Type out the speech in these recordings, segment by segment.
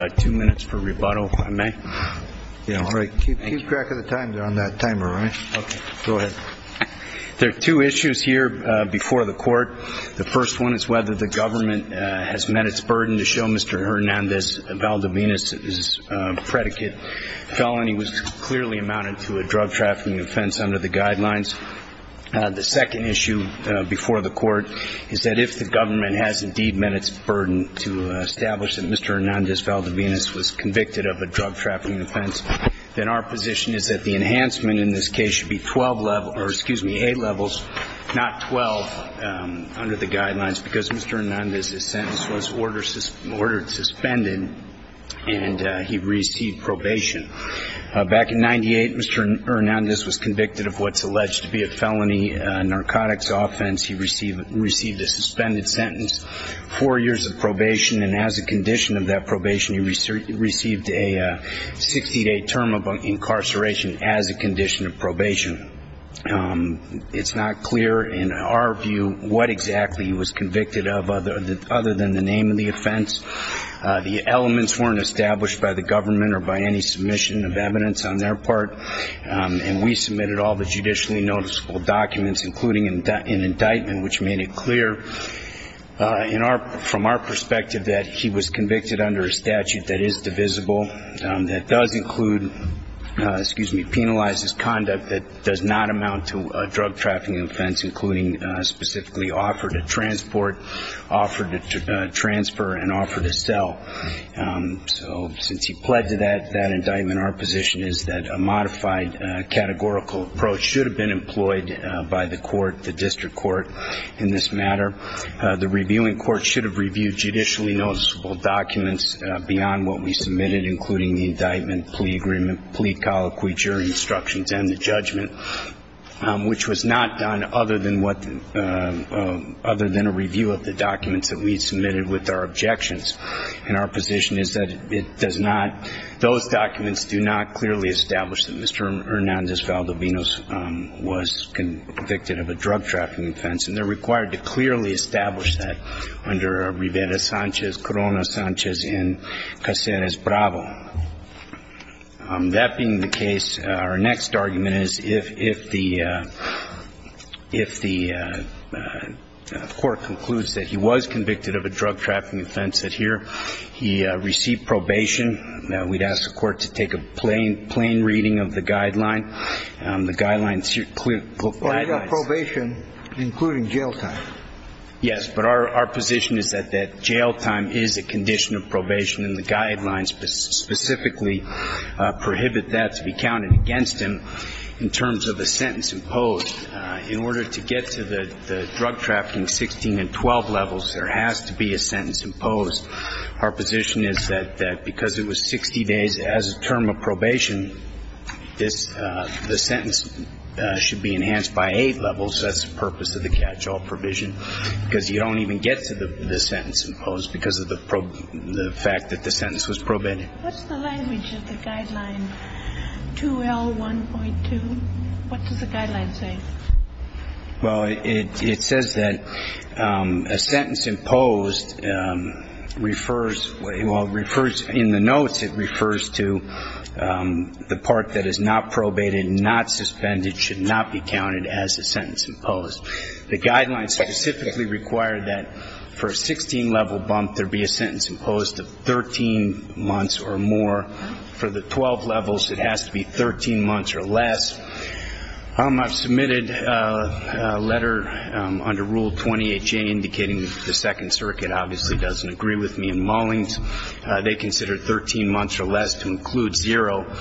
The first one is whether the government has met its burden to show Mr. Hernandez-Valdovinos's predicate felony was clearly amounted to a drug trafficking offense under the guidelines. The second issue before the court is that if the government has indeed met its burden to establish that Mr. Hernandez-Valdovinos was convicted of a drug trafficking offense, then our position is that the enhancement in this case should be 12 levels, or excuse me, 8 levels, not 12 under the guidelines, because Mr. Hernandez's sentence was ordered suspended and he received probation. Back in 1998, Mr. Hernandez was convicted of what's alleged to be a felony narcotics offense. He received a suspended sentence, four years of probation, and as a condition of that probation, he received a 60-day term of incarceration as a condition of probation. It's not clear in our view what exactly he was convicted of other than the name of the offense. The elements weren't established by the government or by any submission of evidence on their part, and we submitted all the judicially noticeable documents, including an indictment which made it clear from our perspective that he was convicted under a statute that is divisible, that does include, excuse me, penalizes conduct that does not amount to a drug trafficking offense, including specifically offer to transport, offer to transfer, and offer to sell. So since he pled to that indictment, our position is that a modified categorical approach should have been employed by the court, the district court, in this matter. The reviewing court should have reviewed judicially noticeable documents beyond what we submitted, including the indictment, plea agreement, plea colloquy, jury instructions, and the judgment, which was not done other than what, other than a review of the documents that we submitted with our objections. And our position is that it does not, those documents do not clearly establish that Mr. Hernandez Valdovinos was convicted of a drug trafficking offense, and they're required to clearly establish that under Rivera-Sanchez, Corona-Sanchez, and Caceres-Bravo. That being the case, our next argument is if the court concludes that he was convicted of a drug trafficking offense, that here he received probation, that we'd ask the court to take a plain reading of the guideline. The guidelines clearly, the guidelines. But he got probation, including jail time. Yes. But our position is that that jail time is a condition of probation, and the guidelines specifically prohibit that to be counted against him in terms of a sentence imposed. In order to get to the drug trafficking 16 and 12 levels, there has to be a sentence imposed. Our position is that because it was 60 days as a term of probation, this, the sentence should be enhanced by eight levels. That's the purpose of the catch-all provision, because you don't even get to the sentence imposed because of the fact that the sentence was probated. What's the language of the guideline 2L1.2? What does the guideline say? Well, it says that a sentence imposed refers, well, refers, in the notes, it refers to the part that is not probated, not suspended, should not be counted as a sentence imposed. The guidelines specifically require that for a 16-level bump, there be a sentence imposed of 13 months or more. For the 12 levels, it has to be 13 months or less. I've submitted a letter under Rule 20HA indicating the Second Circuit obviously doesn't agree with me in Mullings. They consider 13 months or less to include zero.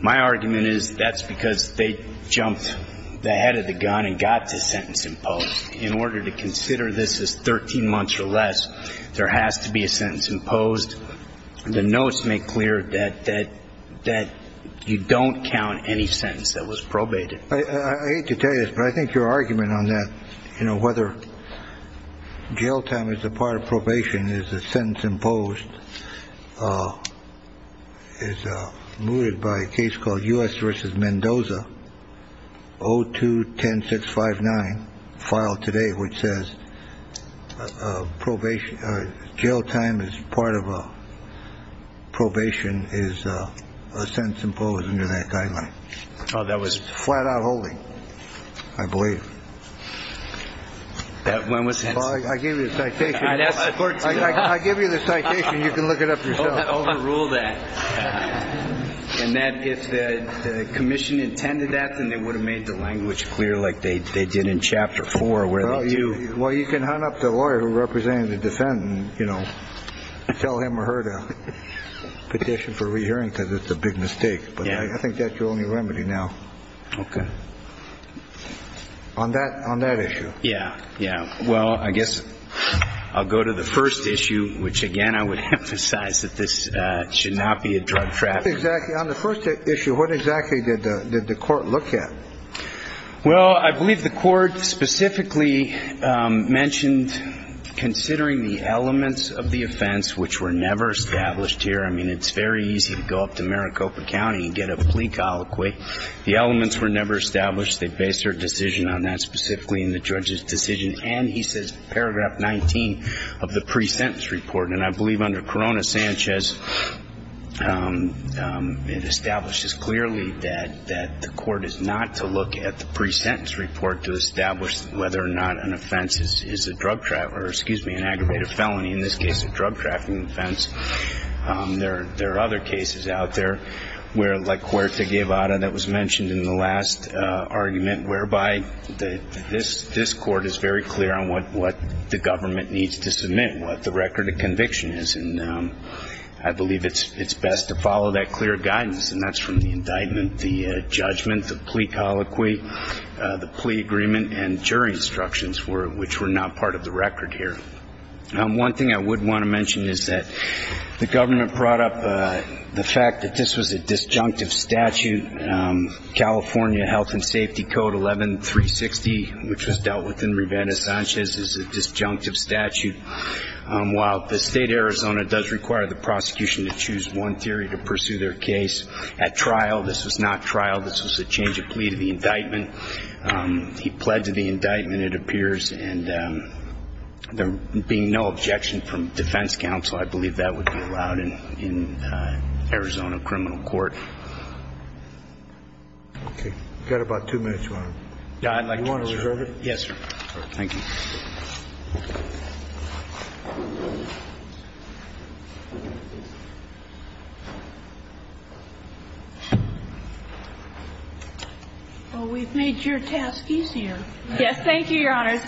My argument is that's because they jumped the head of the gun and got the sentence imposed. In order to consider this as 13 months or less, there has to be a sentence imposed. The notes make clear that you don't count any sentence that was probated. I hate to tell you this, but I think your argument on that, you know, whether jail time is a part of probation, is a sentence imposed, is mooted by a case called U.S. v. Mendoza, O2-10659, filed today, which says jail time is part of a probation, is a sentence imposed under that guideline. Oh, that was... It's flat out holy, I believe. That one was... I gave you the citation. I'd ask the court to... I gave you the citation. You can look it up yourself. I don't want to overrule that, and that if the commission intended that, then they would have made the language clear like they did in Chapter 4, where they do... Well, you can hunt up the lawyer who represented the defendant, you know, and tell him or her to petition for re-hearing, because it's a big mistake, but I think that's your only remedy now. Okay. On that issue. Yeah. Yeah. Well, I guess I'll go to the first issue, which again, I would emphasize that this should not be a drug trafficking case. Exactly. On the first issue, what exactly did the court look at? Well, I believe the court specifically mentioned considering the elements of the offense, which were never established here. I mean, it's very easy to go up to Maricopa County and get a plea colloquy. The elements were never established. They based their decision on that, specifically in the judge's decision, and he says, Paragraph 19 of the pre-sentence report, and I believe under Corona-Sanchez, it establishes clearly that the court is not to look at the pre-sentence report to establish whether or not an offense is a drug trafficking, or excuse me, an aggravated felony, in this case, a drug trafficking offense. There are other cases out there where, like Huerta Guevara that was mentioned in the last argument, whereby this court is very clear on what the government needs to submit, what the record of conviction is, and I believe it's best to follow that clear guidance, and that's from the indictment, the judgment, the plea colloquy, the plea agreement, and jury instructions, which were not part of the record here. One thing I would want to mention is that the government brought up the fact that this was a disjunctive statute, California Health and Safety Code 11-360, which was dealt with in Rivera-Sanchez, is a disjunctive statute, while the state of Arizona does require the prosecution to choose one theory to pursue their case. At trial, this was not trial, this was a change of plea to the indictment. He pled to the indictment, it appears, and there being no objection from defense counsel, I believe that would be allowed in Arizona criminal court. Okay. You've got about two minutes, Your Honor. Yeah, I'd like to reserve it. You want to reserve it? Yes, sir. All right. Thank you. Well, we've made your task easier. Yes. Thank you, Your Honors.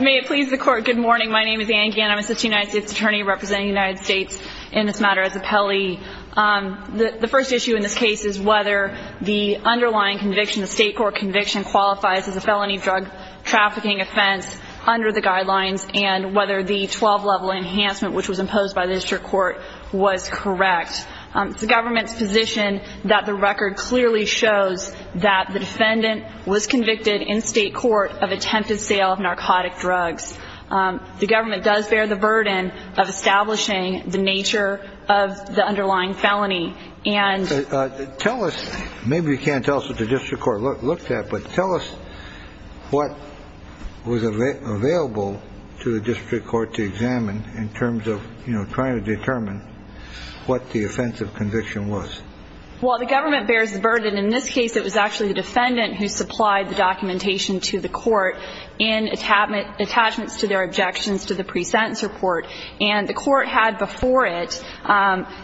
May it please the Court. Good morning. My name is Anne Gann. I'm an assistant United States attorney representing the United States in this matter as appellee. The first issue in this case is whether the underlying conviction, the state court conviction, qualifies as a felony drug trafficking offense under the guidelines, and whether the 12-level enhancement which was imposed by the district court was correct. It's the government's position that the record clearly shows that the defendant was convicted in state court of attempted sale of narcotic drugs. The government does bear the burden of establishing the nature of the underlying felony. And tell us, maybe you can't tell us what the district court looked at, but tell us what was available to the district court to examine in terms of, you know, trying to determine what the offensive conviction was. Well, the government bears the burden. In this case, it was actually the defendant who supplied the documentation to the court in attachments to their objections to the pre-sentence report. And the court had before it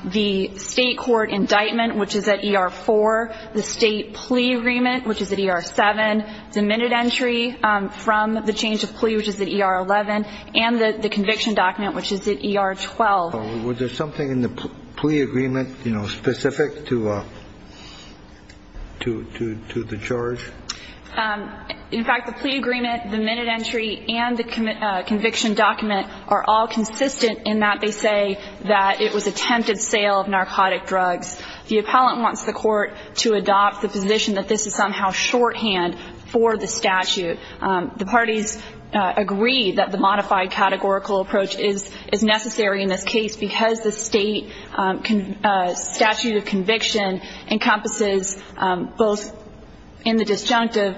the state court indictment, which is at ER-4, the state plea agreement, which is at ER-7, the minute entry from the change of plea, which is at ER-11, and the conviction document, which is at ER-12. Was there something in the plea agreement, you know, specific to the charge? In fact, the plea agreement, the minute entry, and the conviction document are all consistent in that they say that it was attempted sale of narcotic drugs. The appellant wants the court to adopt the position that this is somehow shorthand for the statute. The parties agree that the modified categorical approach is necessary in this case because the state statute of conviction encompasses both in the disjunctive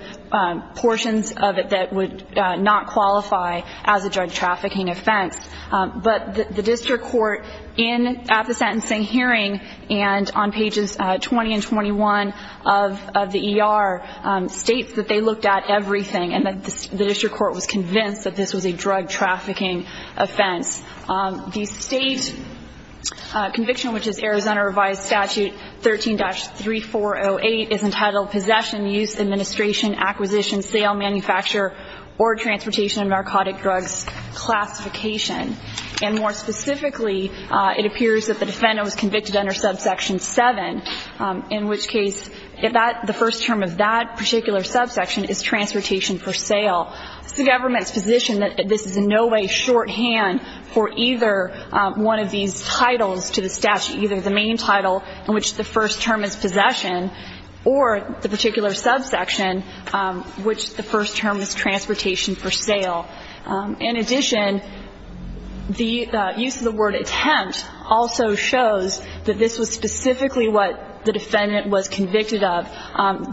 portions of it that would not qualify as a drug trafficking offense. But the district court in, at the sentencing hearing and on pages 20 and 21 of the ER states that they looked at everything and that the district court was convinced that this was a drug trafficking offense. The state conviction, which is Arizona revised statute 13-3408, is entitled possession, use, administration, acquisition, sale, manufacture, or transportation of narcotic drugs classification. And more specifically, it appears that the defendant was convicted under subsection 7, in which case the first term of that particular subsection is transportation for sale. It's the government's position that this is in no way shorthand for the state's conviction for either one of these titles to the statute, either the main title in which the first term is possession or the particular subsection, which the first term is transportation for sale. In addition, the use of the word attempt also shows that this was specifically what the defendant was convicted of.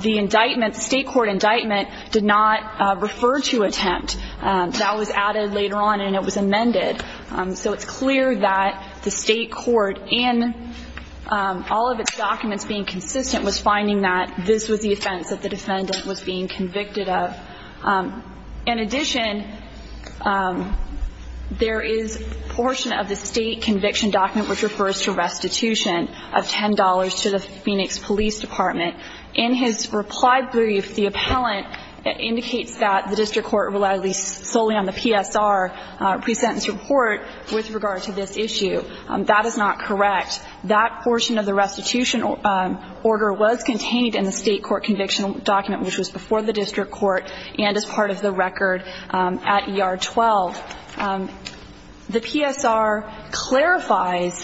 The indictment, the state court indictment, did not refer to attempt. That was added later on and it was amended. So it's clear that the state court, in all of its documents being consistent, was finding that this was the offense that the defendant was being convicted of. In addition, there is a portion of the state conviction document which refers to restitution of $10 to the Phoenix Police Department. In his reply brief, the appellant indicates that the district court relied solely on the PSR pre-sentence report with regard to this issue. That is not correct. That portion of the restitution order was contained in the state court conviction document, which was before the district court and as part of the record at ER-12. The PSR clarifies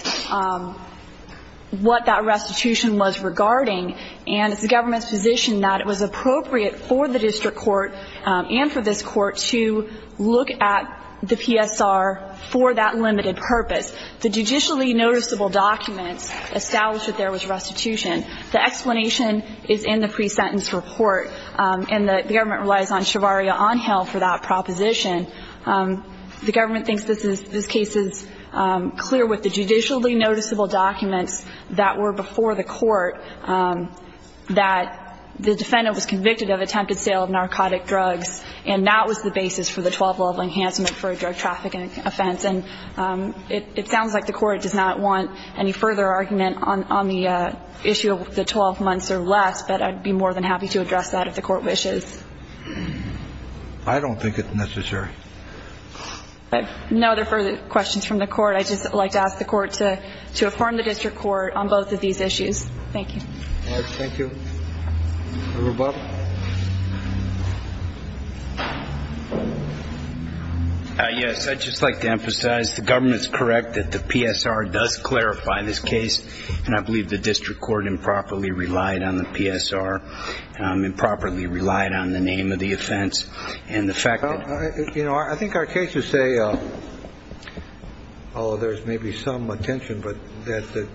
what that restitution was regarding, and it's the government's position that it was appropriate for the district court and for this court to look at the PSR for that limited purpose. The judicially noticeable documents establish that there was restitution. The explanation is in the pre-sentence report, and the government relies on Shavaria Onhill for that proposition. The government thinks this case is clear with the judicially noticeable documents that were before the court that the defendant was convicted of attempted sale of narcotic drugs, and that was the basis for the 12-level indictment. The court does not want any further argument on the issue of the 12 months or less, but I'd be more than happy to address that if the court wishes. I don't think it's necessary. No other further questions from the court. I'd just like to ask the court to affirm the district court on both of these issues. Thank you. Thank you. Roberto? Yes. I'd just like to emphasize the government's correct that the PSR does clarify this case, and I believe the district court improperly relied on the PSR, improperly relied on the name of the offense and the fact that. You know, I think our cases say, oh, there's maybe some attention, but the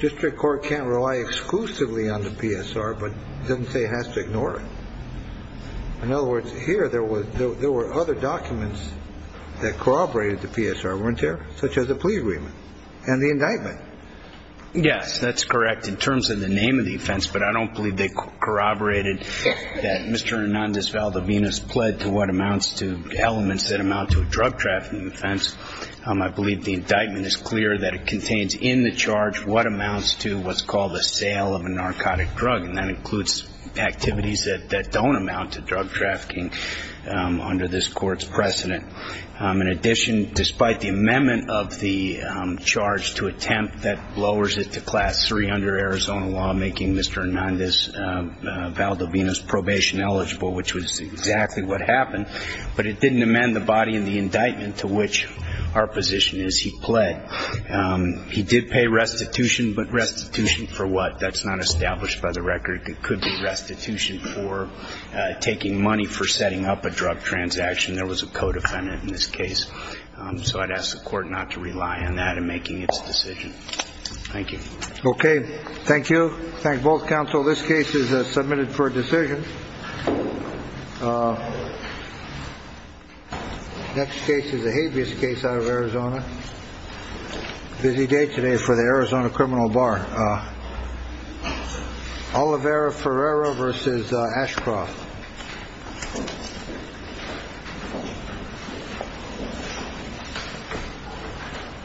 district court can't rely exclusively on the PSR, but it doesn't say it has to ignore it. In other words, here there were other documents that corroborated the PSR, weren't there, such as the plea agreement and the indictment? Yes, that's correct in terms of the name of the offense, but I don't believe they corroborated that Mr. Hernandez Valdovinas pled to what amounts to elements that amount to a drug trafficking offense. I believe the indictment is clear that it contains in the charge what amounts to what's called a sale of a narcotic drug, and that includes activities that don't amount to drug trafficking under this court's precedent. In addition, despite the amendment of the charge to attempt, that lowers it to class three under Arizona law, making Mr. Hernandez Valdovinas probation eligible, which was exactly what happened, but it didn't amend the body in the case. Our position is he pled. He did pay restitution, but restitution for what? That's not established by the record. It could be restitution for taking money for setting up a drug transaction. There was a co-defendant in this case. So I'd ask the court not to rely on that in making its decision. Thank you. Okay. Thank you. Thank both counsel. This case is submitted for decision. Next case is a habeas case out of Arizona. Busy day today for the Arizona criminal bar. Olivera Ferreira versus Ashcroft.